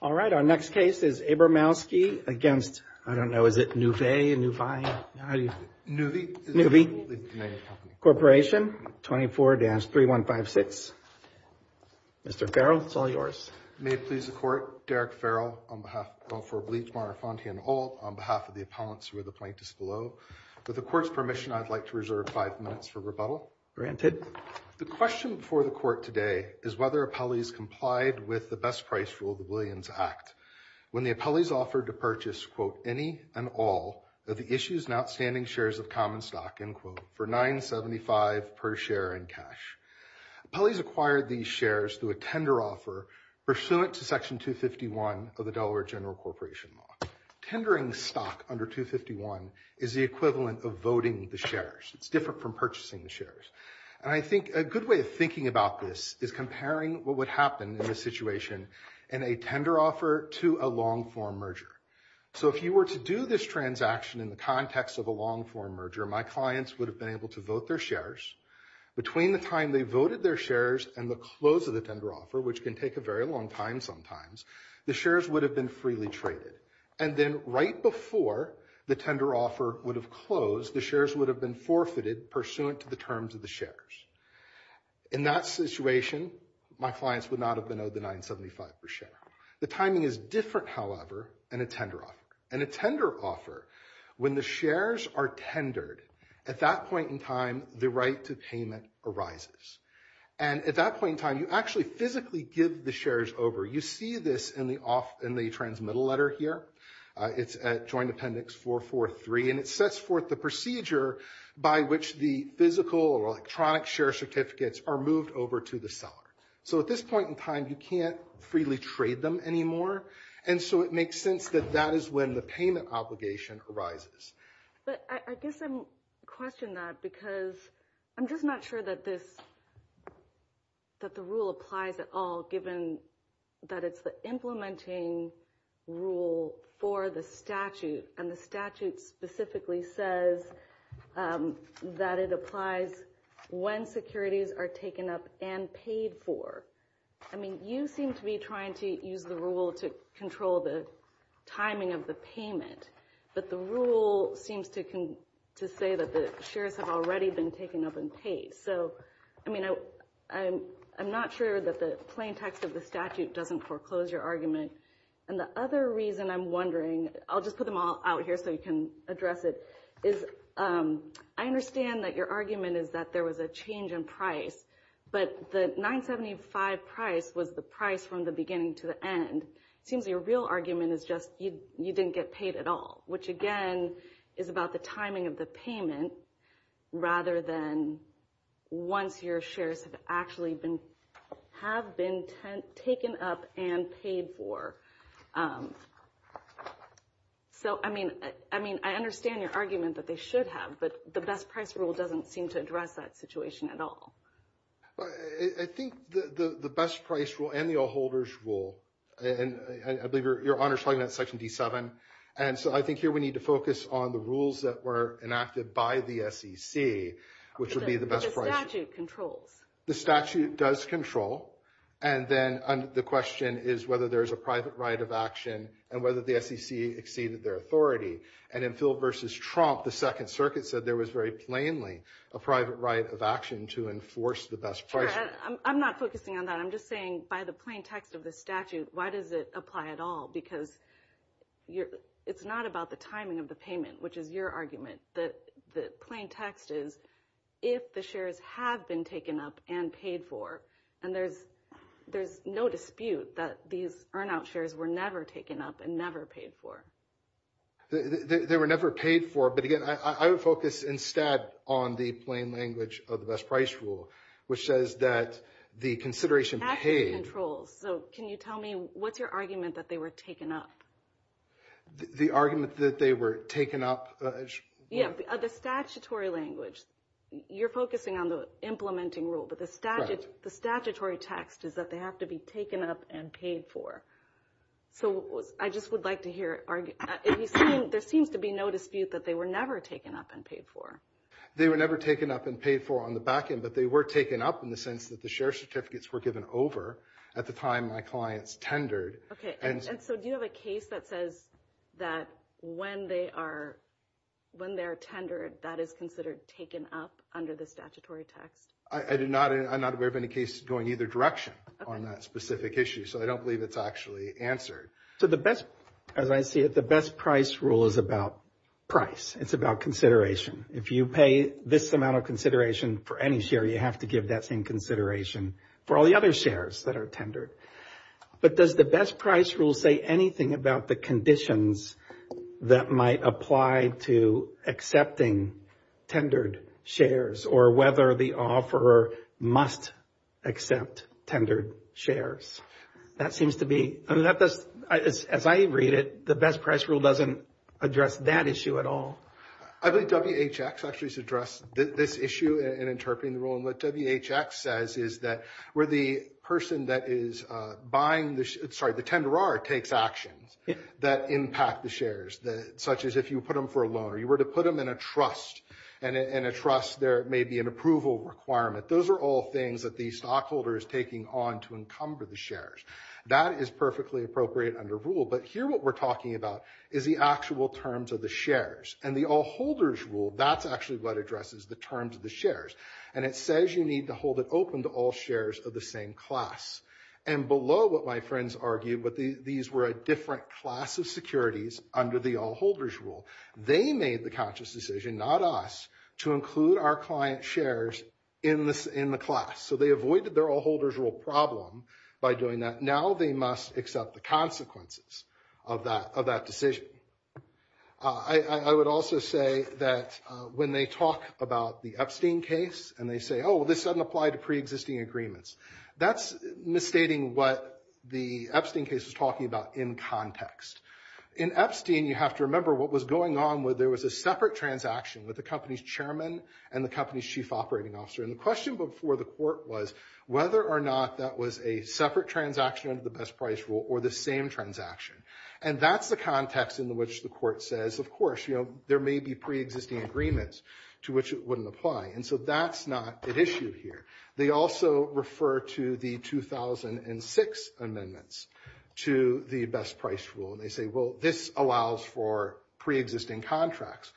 All right, our next case is Abramowski against, I don't know, is it Nuvei and Nuvei? Nuvei Corporation, 24-3156. Mr. Farrell, it's all yours. May it please the Court, Derek Farrell, on behalf of all four of Bleach, Mara, Fonte, and Holt, on behalf of the appellants who are the plaintiffs below. With the Court's permission, I'd like to reserve five minutes for rebuttal. The question before the Court today is whether appellees complied with the best price rule of the Williams Act when the appellees offered to purchase, quote, any and all of the issues and outstanding shares of common stock, end quote, for $9.75 per share in cash. Appellees acquired these shares through a tender offer pursuant to Section 251 of the Delaware General Corporation Law. Tendering stock under 251 is the equivalent of voting the shares. It's different from purchasing the shares. And I think a good way of thinking about this is comparing what would happen in this situation in a tender offer to a long-form merger. So if you were to do this transaction in the context of a long-form merger, my clients would have been able to vote their shares. Between the time they voted their shares and the close of the tender offer, which can take a very long time sometimes, the shares would have been freely traded. And then right before the tender offer would have closed, the shares would have been forfeited pursuant to the terms of the shares. In that situation, my clients would not have been owed the $9.75 per share. The timing is different, however, in a tender offer. In a tender offer, when the shares are tendered, at that point in time, the right to payment arises. And at that point in time, you actually physically give the shares over. You see this in the transmittal letter here. It's at Joint Appendix 443. And it sets forth the procedure by which the physical or electronic share certificates are moved over to the seller. So at this point in time, you can't freely trade them anymore. And so it makes sense that that is when the payment obligation arises. But I guess I'm questioning that because I'm just not sure that the rule applies at all, given that it's the implementing rule for the statute. And the statute specifically says that it applies when securities are taken up and paid for. I mean, you seem to be trying to use the rule to control the timing of the payment. But the rule seems to say that the shares have already been taken up and paid. So, I mean, I'm not sure that the plain text of the statute doesn't foreclose your argument. And the other reason I'm wondering, I'll just put them all out here so you can address it, is I understand that your argument is that there was a change in price, but the $9.75 price was the price from the beginning to the end. It seems your real argument is just you didn't get paid at all, which, again, is about the timing of the payment, rather than once your shares have actually been, have been taken up and paid for. So, I mean, I understand your argument that they should have, but the best price rule doesn't seem to address that situation at all. I think the best price rule and the all-holders rule, and I believe Your Honor is talking about Section D7. And so I think here we need to focus on the rules that were enacted by the SEC, which would be the best price. But the statute controls. The statute does control. And then the question is whether there is a private right of action and whether the SEC exceeded their authority. And in Phil versus Trump, the Second Circuit said there was very plainly a private right of action to enforce the best price. I'm not focusing on that. I'm just saying by the plain text of the statute, why does it apply at all? Because it's not about the timing of the payment, which is your argument. The plain text is if the shares have been taken up and paid for, and there's no dispute that these earn out shares were never taken up and never paid for. They were never paid for. But again, I would focus instead on the plain language of the best price rule, which says that the consideration paid. So can you tell me what's your argument that they were taken up? The argument that they were taken up? Yeah, the statutory language. You're focusing on the implementing rule, but the statutory text is that they have to be taken up and paid for. So I just would like to hear it. There seems to be no dispute that they were never taken up and paid for. They were never taken up and paid for on the back end, but they were taken up in the sense that the share certificates were given over at the time my clients tendered. Okay. And so do you have a case that says that when they are tendered, that is considered taken up under the statutory text? I'm not aware of any case going either direction on that specific issue. So I don't believe it's actually answered. So the best, as I see it, the best price rule is about price. It's about consideration. If you pay this amount of consideration for any share, you have to give that same consideration for all the other shares that are tendered. But does the best price rule say anything about the conditions that might apply to accepting tendered shares or whether the offeror must accept tendered shares? That seems to be, as I read it, the best price rule doesn't address that issue at all. I believe WHX actually has addressed this issue in interpreting the rule. And what WHX says is that where the person that is buying, sorry, the tenderer takes actions that impact the shares, such as if you put them for a loan or you were to put them in a trust, and in a trust there may be an approval requirement. Those are all things that the stockholder is taking on to encumber the shares. That is perfectly appropriate under rule. But here what we're talking about is the actual terms of the shares. And the all-holders rule, that's actually what addresses the terms of the shares. And it says you need to hold it open to all shares of the same class. And below what my friends argue, these were a different class of securities under the all-holders rule. They made the conscious decision, not us, to include our client shares in the class. So they avoided their all-holders rule problem by doing that. Now they must accept the consequences of that decision. I would also say that when they talk about the Epstein case and they say, oh, well, this doesn't apply to preexisting agreements, that's misstating what the Epstein case is talking about in context. In Epstein, you have to remember what was going on where there was a separate transaction with the company's chairman and the company's chief operating officer. And the question before the court was whether or not that was a separate transaction under the best price rule or the same transaction. And that's the context in which the court says, of course, you know, there may be preexisting agreements to which it wouldn't apply. And so that's not at issue here. They also refer to the 2006 amendments to the best price rule. And they say, well, this allows for preexisting contracts.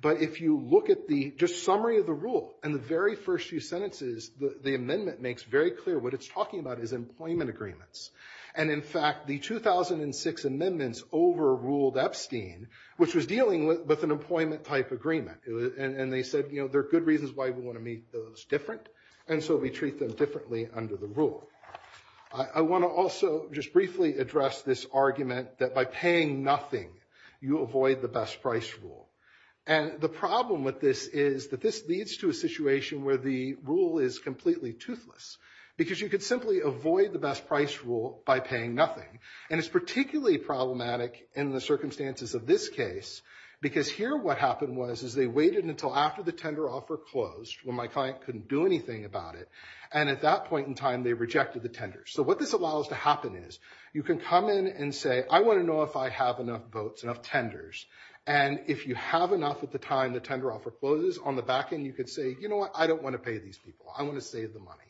But if you look at the just summary of the rule and the very first few sentences, the amendment makes very clear what it's talking about is employment agreements. And in fact, the 2006 amendments overruled Epstein, which was dealing with an employment type agreement. And they said, you know, there are good reasons why we want to make those different. And so we treat them differently under the rule. I want to also just briefly address this argument that by paying nothing, you avoid the best price rule. And the problem with this is that this leads to a situation where the rule is completely toothless. Because you could simply avoid the best price rule by paying nothing. And it's particularly problematic in the circumstances of this case. Because here what happened was is they waited until after the tender offer closed when my client couldn't do anything about it. And at that point in time, they rejected the tender. So what this allows to happen is you can come in and say, I want to know if I have enough votes, enough tenders. And if you have enough at the time the tender offer closes, on the back end you could say, you know what, I don't want to pay these people. I want to save the money.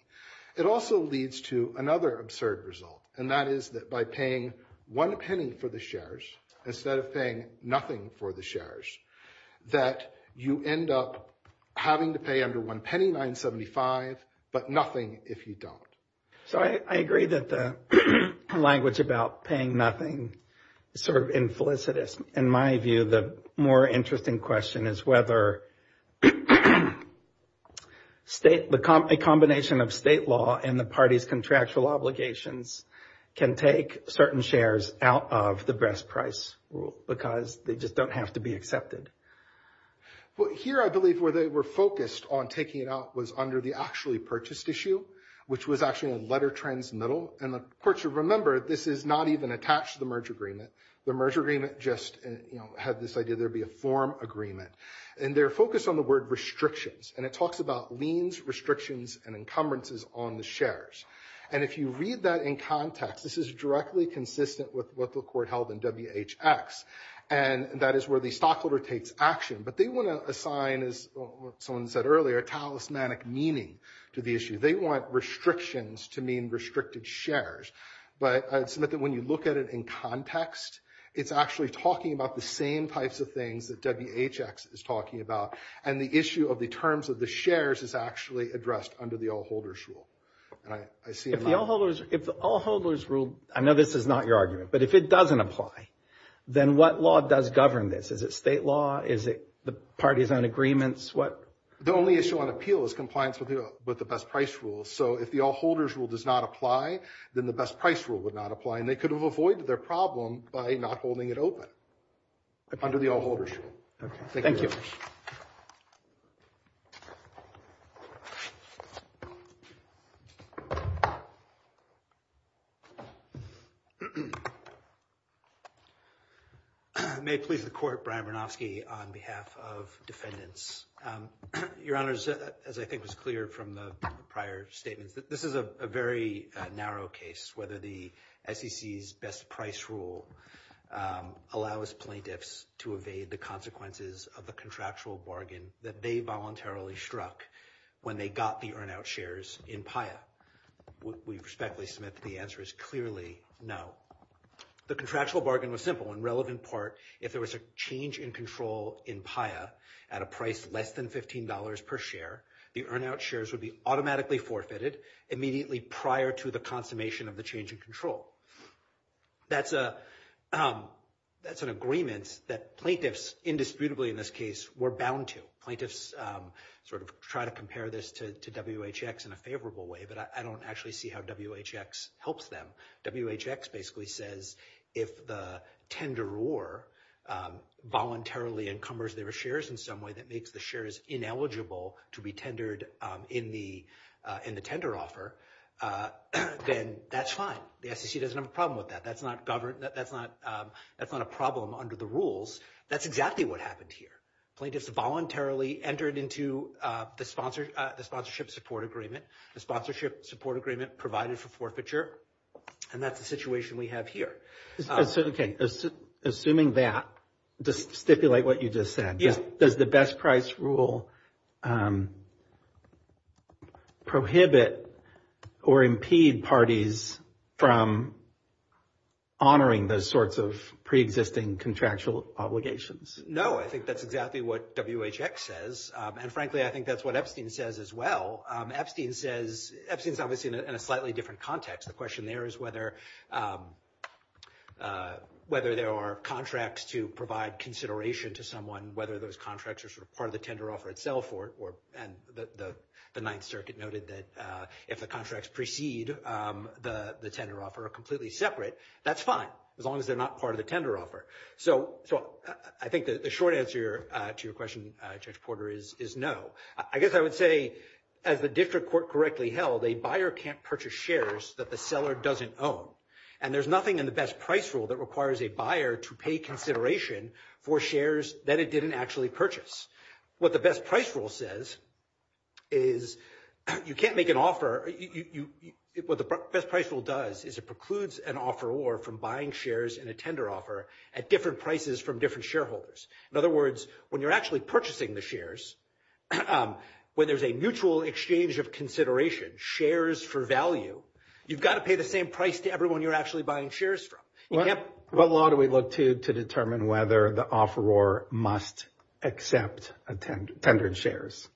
It also leads to another absurd result, and that is that by paying one penny for the shares instead of paying nothing for the shares, that you end up having to pay under one penny, $9.75, but nothing if you don't. So I agree that the language about paying nothing is sort of implicit. In my view, the more interesting question is whether a combination of state law and the party's contractual obligations can take certain shares out of the best price rule. Because they just don't have to be accepted. Well, here I believe where they were focused on taking it out was under the actually purchased issue, which was actually a letter transmittal. And the court should remember this is not even attached to the merge agreement. The merge agreement just had this idea there would be a form agreement. And they're focused on the word restrictions. And it talks about liens, restrictions, and encumbrances on the shares. And if you read that in context, this is directly consistent with what the court held in WHX. And that is where the stockholder takes action. But they want to assign, as someone said earlier, a talismanic meaning to the issue. They want restrictions to mean restricted shares. But I'd submit that when you look at it in context, it's actually talking about the same types of things that WHX is talking about. And the issue of the terms of the shares is actually addressed under the all-holders rule. If the all-holders rule, I know this is not your argument, but if it doesn't apply, then what law does govern this? Is it state law? Is it the party's own agreements? The only issue on appeal is compliance with the best price rule. So if the all-holders rule does not apply, then the best price rule would not apply. And they could have avoided their problem by not holding it open under the all-holders rule. Thank you. May it please the court, Brian Bernofsky on behalf of defendants. Your Honor, as I think was clear from the prior statements, this is a very narrow case, whether the SEC's best price rule allows plaintiffs to evade the consequences of the contractual bargain that they voluntarily struck when they got the earn-out shares in PAIA. We respectfully submit that the answer is clearly no. The contractual bargain was simple. If there was a change in control in PAIA at a price less than $15 per share, the earn-out shares would be automatically forfeited immediately prior to the consummation of the change in control. That's an agreement that plaintiffs, indisputably in this case, were bound to. Plaintiffs sort of try to compare this to WHX in a favorable way, but I don't actually see how WHX helps them. WHX basically says if the tenderer voluntarily encumbers their shares in some way that makes the shares ineligible to be tendered in the tender offer, then that's fine. The SEC doesn't have a problem with that. That's not a problem under the rules. That's exactly what happened here. Plaintiffs voluntarily entered into the sponsorship support agreement. The sponsorship support agreement provided for forfeiture, and that's the situation we have here. Assuming that, to stipulate what you just said, does the best price rule prohibit or impede parties from honoring those sorts of preexisting contractual obligations? No, I think that's exactly what WHX says, and frankly, I think that's what Epstein says as well. Epstein's obviously in a slightly different context. The question there is whether there are contracts to provide consideration to someone, whether those contracts are sort of part of the tender offer itself, and the Ninth Circuit noted that if the contracts precede the tender offer are completely separate, that's fine as long as they're not part of the tender offer. So I think the short answer to your question, Judge Porter, is no. I guess I would say, as the district court correctly held, a buyer can't purchase shares that the seller doesn't own, and there's nothing in the best price rule that requires a buyer to pay consideration for shares that it didn't actually purchase. What the best price rule says is you can't make an offer. What the best price rule does is it precludes an offeror from buying shares in a tender offer at different prices from different shareholders. In other words, when you're actually purchasing the shares, when there's a mutual exchange of consideration, shares for value, you've got to pay the same price to everyone you're actually buying shares from. What law do we look to to determine whether the offeror must accept tendered shares?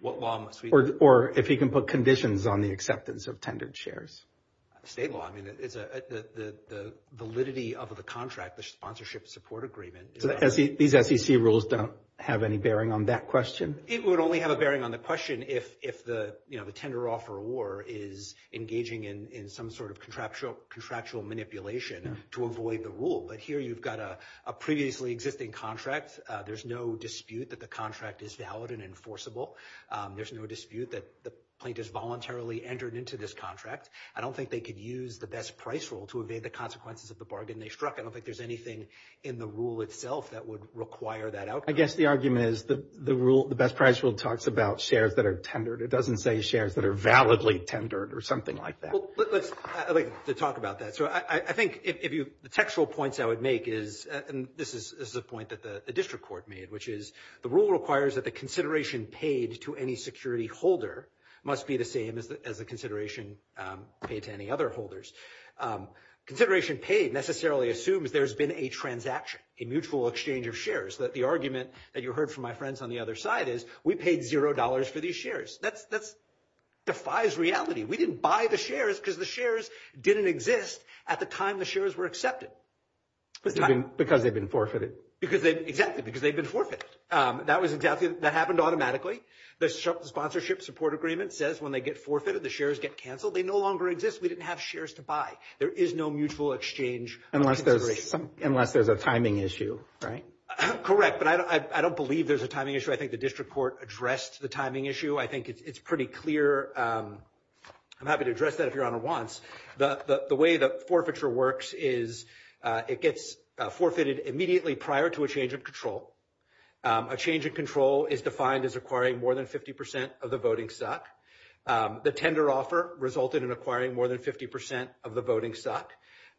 What law must we look to? Or if he can put conditions on the acceptance of tendered shares? State law. The validity of the contract, the sponsorship support agreement. These SEC rules don't have any bearing on that question? It would only have a bearing on the question if the tender offeror is engaging in some sort of contractual manipulation to avoid the rule. But here you've got a previously existing contract. There's no dispute that the contract is valid and enforceable. There's no dispute that the plaintiff's voluntarily entered into this contract. I don't think they could use the best price rule to evade the consequences of the bargain they struck. I don't think there's anything in the rule itself that would require that outcome. I guess the argument is the best price rule talks about shares that are tendered. It doesn't say shares that are validly tendered or something like that. I'd like to talk about that. I think the textual points I would make is, and this is a point that the district court made, which is the rule requires that the consideration paid to any security holder must be the same as the consideration paid to any other holders. Consideration paid necessarily assumes there's been a transaction, a mutual exchange of shares. The argument that you heard from my friends on the other side is we paid $0 for these shares. That defies reality. We didn't buy the shares because the shares didn't exist at the time the shares were accepted. Because they've been forfeited. Exactly, because they've been forfeited. That happened automatically. The sponsorship support agreement says when they get forfeited, the shares get canceled. They no longer exist. We didn't have shares to buy. There is no mutual exchange. Unless there's a timing issue, right? Correct, but I don't believe there's a timing issue. I think the district court addressed the timing issue. I think it's pretty clear. I'm happy to address that if Your Honor wants. The way the forfeiture works is it gets forfeited immediately prior to a change of control. A change of control is defined as acquiring more than 50% of the voting stock. The tender offer resulted in acquiring more than 50% of the voting stock.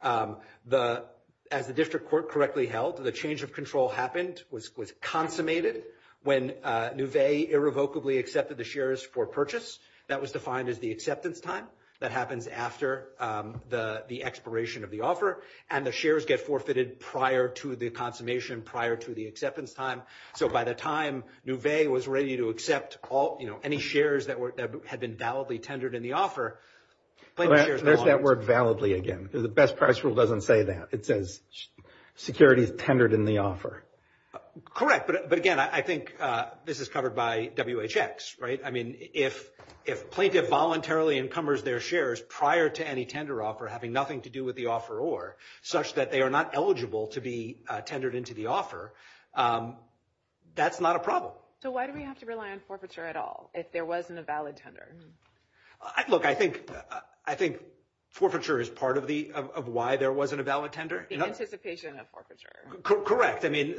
As the district court correctly held, the change of control happened, was consummated, when Nouvet irrevocably accepted the shares for purchase. That was defined as the acceptance time. That happens after the expiration of the offer. And the shares get forfeited prior to the consummation, prior to the acceptance time. So by the time Nouvet was ready to accept any shares that had been validly tendered in the offer, There's that word validly again. The best price rule doesn't say that. It says securities tendered in the offer. Correct, but again, I think this is covered by WHX, right? I mean, if a plaintiff voluntarily encumbers their shares prior to any tender offer, having nothing to do with the offeror, such that they are not eligible to be tendered into the offer, that's not a problem. So why do we have to rely on forfeiture at all if there wasn't a valid tender? Look, I think forfeiture is part of why there wasn't a valid tender. The anticipation of forfeiture. Correct. I mean,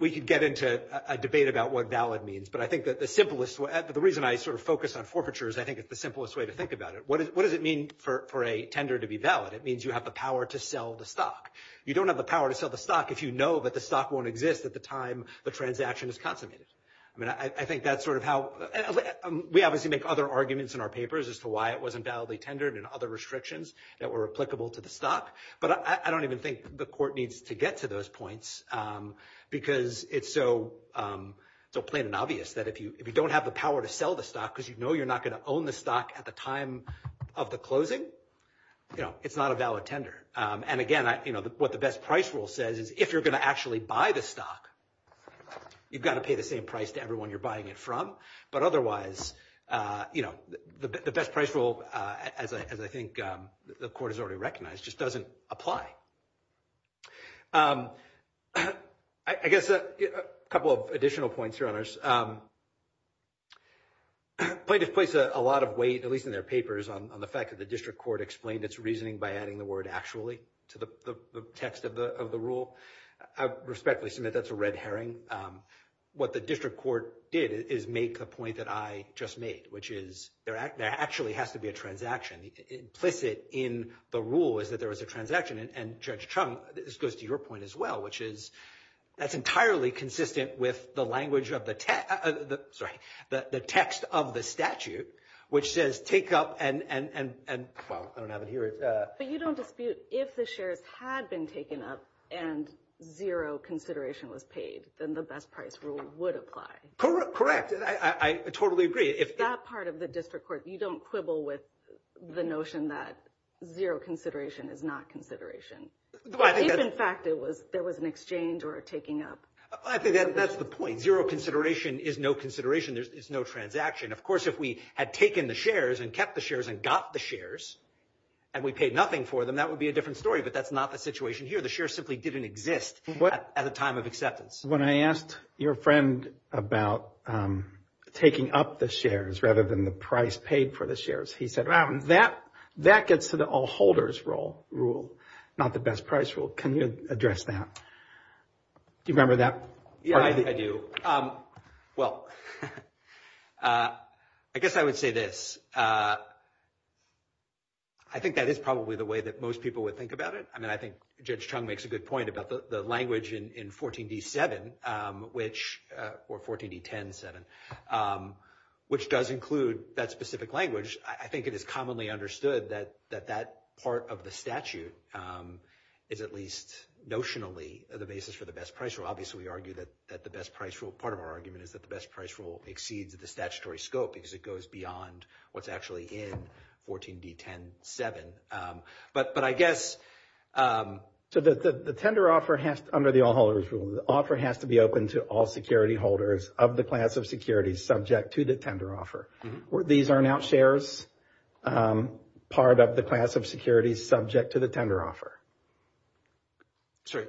we could get into a debate about what valid means, but I think that the reason I sort of focus on forfeiture is I think it's the simplest way to think about it. What does it mean for a tender to be valid? It means you have the power to sell the stock. You don't have the power to sell the stock if you know that the stock won't exist at the time the transaction is consummated. I mean, I think that's sort of how we obviously make other arguments in our papers as to why it wasn't validly tendered and other restrictions that were applicable to the stock. But I don't even think the court needs to get to those points because it's so plain and obvious that if you don't have the power to sell the stock because you know you're not going to own the stock at the time of the closing, you know, it's not a valid tender. And again, you know, what the best price rule says is if you're going to actually buy the stock, you've got to pay the same price to everyone you're buying it from. But otherwise, you know, the best price rule, as I think the court has already recognized, just doesn't apply. I guess a couple of additional points here on this. Plaintiffs place a lot of weight, at least in their papers, on the fact that the district court explained its reasoning by adding the word actually to the text of the rule. I respectfully submit that's a red herring. What the district court did is make the point that I just made, which is there actually has to be a transaction. Implicit in the rule is that there was a transaction. And Judge Chung, this goes to your point as well, which is that's entirely consistent with the language of the text, sorry, the text of the statute, which says take up and, well, I don't have it here. But you don't dispute if the shares had been taken up and zero consideration was paid, then the best price rule would apply. Correct. I totally agree. That part of the district court, you don't quibble with the notion that zero consideration is not consideration. If, in fact, it was there was an exchange or taking up. I think that's the point. Zero consideration is no consideration. There is no transaction. Of course, if we had taken the shares and kept the shares and got the shares and we paid nothing for them, that would be a different story. But that's not the situation here. The share simply didn't exist at the time of acceptance. When I asked your friend about taking up the shares rather than the price paid for the shares, he said that that gets to the all holders rule, not the best price rule. Can you address that? Do you remember that? Yeah, I do. Well, I guess I would say this. I think that is probably the way that most people would think about it. I mean, I think Judge Chung makes a good point about the language in 14D7 or 14D107, which does include that specific language. I think it is commonly understood that that part of the statute is at least notionally the basis for the best price rule. Obviously, we argue that the best price rule, part of our argument is that the best price rule exceeds the statutory scope because it goes beyond what's actually in 14D107. But I guess... So the tender offer has to, under the all holders rule, the offer has to be open to all security holders of the class of securities subject to the tender offer. These are now shares, part of the class of securities subject to the tender offer. Sorry.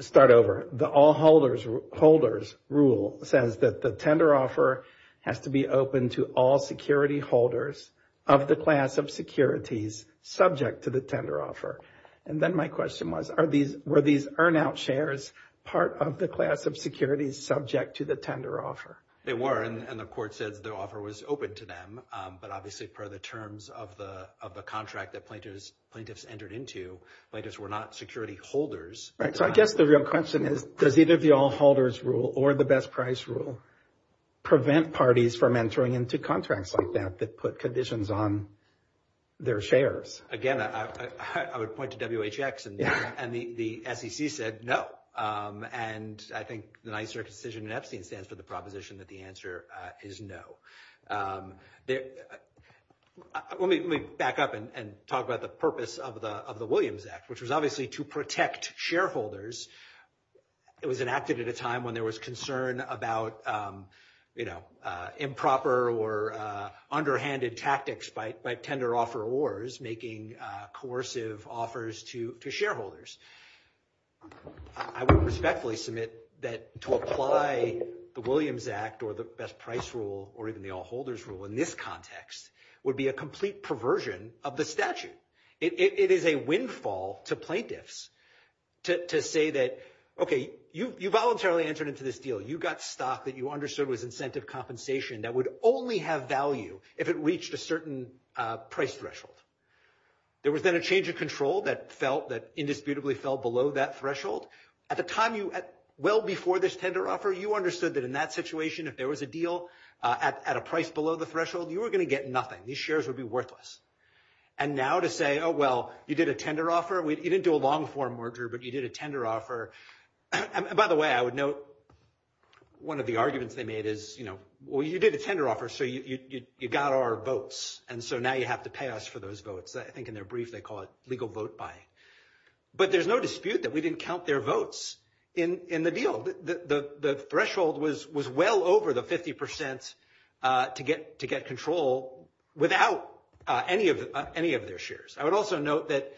Start over. The all holders rule says that the tender offer has to be open to all security holders of the class of securities subject to the tender offer. And then my question was, were these earn out shares part of the class of securities subject to the tender offer? They were, and the court says the offer was open to them. But obviously, per the terms of the contract that plaintiffs entered into, plaintiffs were not security holders. So I guess the real question is, does either the all holders rule or the best price rule prevent parties from entering into contracts like that that put conditions on their shares? Again, I would point to WHX, and the SEC said no. And I think the Ninth Circuit decision in Epstein stands for the proposition that the answer is no. Let me back up and talk about the purpose of the Williams Act, which was obviously to protect shareholders. It was enacted at a time when there was concern about improper or underhanded tactics by tender offerors making coercive offers to shareholders. I would respectfully submit that to apply the Williams Act or the best price rule or even the all holders rule in this context would be a complete perversion of the statute. It is a windfall to plaintiffs to say that, OK, you voluntarily entered into this deal. You got stock that you understood was incentive compensation that would only have value if it reached a certain price threshold. There was then a change of control that felt that indisputably fell below that threshold. At the time, well before this tender offer, you understood that in that situation, if there was a deal at a price below the threshold, you were going to get nothing. These shares would be worthless. And now to say, oh, well, you did a tender offer. You didn't do a long-form merger, but you did a tender offer. By the way, I would note one of the arguments they made is, well, you did a tender offer, so you got our votes. And so now you have to pay us for those votes. I think in their brief, they call it legal vote buying. But there's no dispute that we didn't count their votes in the deal. The threshold was well over the 50 percent to get control without any of their shares. I would also note that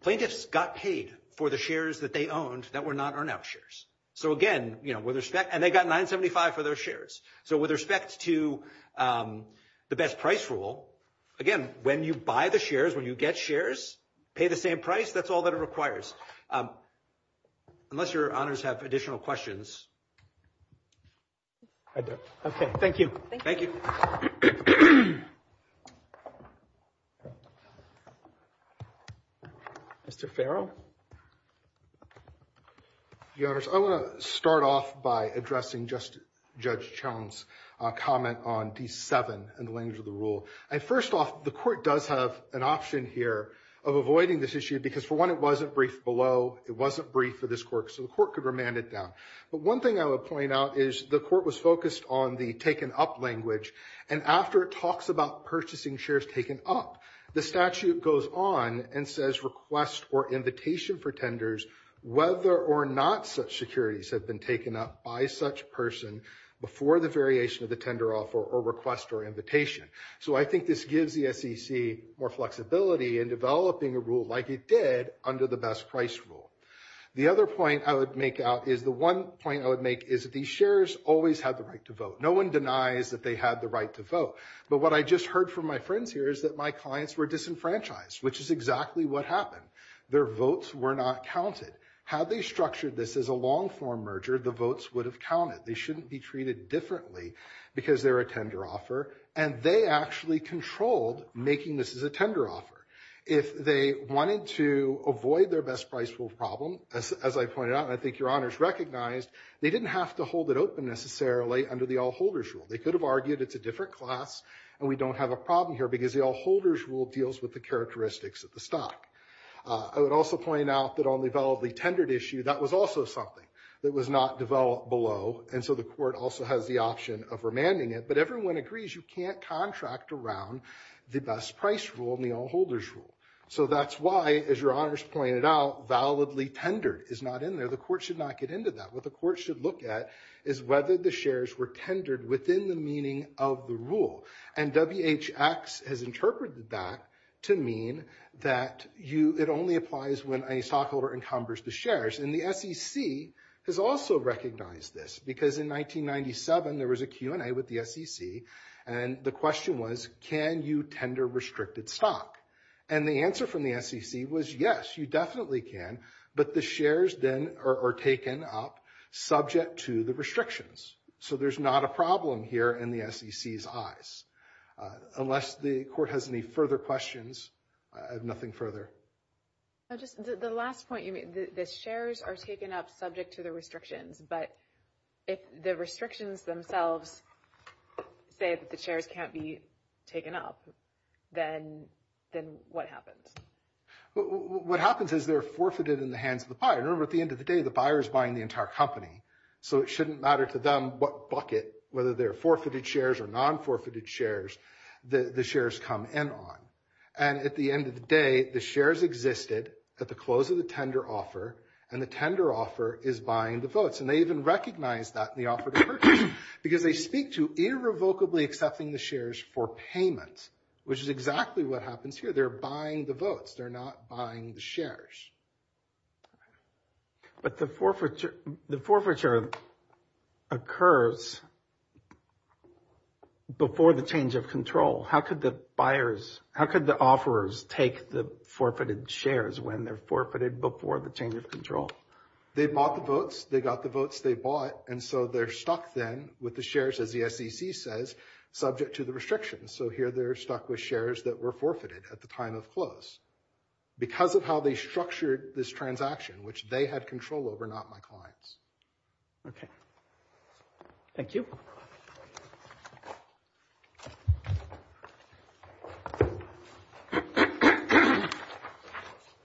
plaintiffs got paid for the shares that they owned that were not earn-out shares. So, again, with respect – and they got 975 for their shares. So with respect to the best price rule, again, when you buy the shares, when you get shares, pay the same price. That's all that it requires. Unless your honors have additional questions. I don't. Okay. Thank you. Thank you. Mr. Farrell. Your honors, I want to start off by addressing Judge Chown's comment on D7 and the language of the rule. First off, the court does have an option here of avoiding this issue because, for one, it wasn't briefed below. It wasn't briefed for this court, so the court could remand it down. But one thing I would point out is the court was focused on the taken-up language, and after it talks about purchasing shares taken up, the statute goes on and says request or invitation for tenders whether or not such securities have been taken up by such person before the variation of the tender offer or request or invitation. So I think this gives the SEC more flexibility in developing a rule like it did under the best price rule. The other point I would make out is the one point I would make is that these shares always have the right to vote. No one denies that they have the right to vote. But what I just heard from my friends here is that my clients were disenfranchised, which is exactly what happened. Their votes were not counted. Had they structured this as a long-form merger, the votes would have counted. They shouldn't be treated differently because they're a tender offer, and they actually controlled making this as a tender offer. If they wanted to avoid their best price rule problem, as I pointed out, and I think Your Honors recognized, they didn't have to hold it open necessarily under the all-holders rule. They could have argued it's a different class and we don't have a problem here because the all-holders rule deals with the characteristics of the stock. I would also point out that on the validly tendered issue, that was also something that was not developed below, and so the court also has the option of remanding it. But everyone agrees you can't contract around the best price rule and the all-holders rule. So that's why, as Your Honors pointed out, validly tendered is not in there. The court should not get into that. What the court should look at is whether the shares were tendered within the meaning of the rule. And WHX has interpreted that to mean that it only applies when a stockholder encumbers the shares. And the SEC has also recognized this because in 1997, there was a Q&A with the SEC, and the question was, can you tender restricted stock? And the answer from the SEC was yes, you definitely can, but the shares then are taken up subject to the restrictions. So there's not a problem here in the SEC's eyes. Unless the court has any further questions, I have nothing further. The last point you made, the shares are taken up subject to the restrictions, but if the restrictions themselves say that the shares can't be taken up, then what happens? What happens is they're forfeited in the hands of the buyer. Remember, at the end of the day, the buyer is buying the entire company. So it shouldn't matter to them what bucket, whether they're forfeited shares or non-forfeited shares, the shares come in on. And at the end of the day, the shares existed at the close of the tender offer, and the tender offer is buying the votes. And they even recognize that in the offer to purchase because they speak to irrevocably accepting the shares for payment, which is exactly what happens here. They're buying the votes. They're not buying the shares. But the forfeiture occurs before the change of control. How could the buyers, how could the offerors take the forfeited shares when they're forfeited before the change of control? They bought the votes. They got the votes. They bought. And so they're stuck then with the shares, as the SEC says, subject to the restrictions. So here they're stuck with shares that were forfeited at the time of close because of how they structured this transaction, which they had control over, not my clients. OK. Thank you.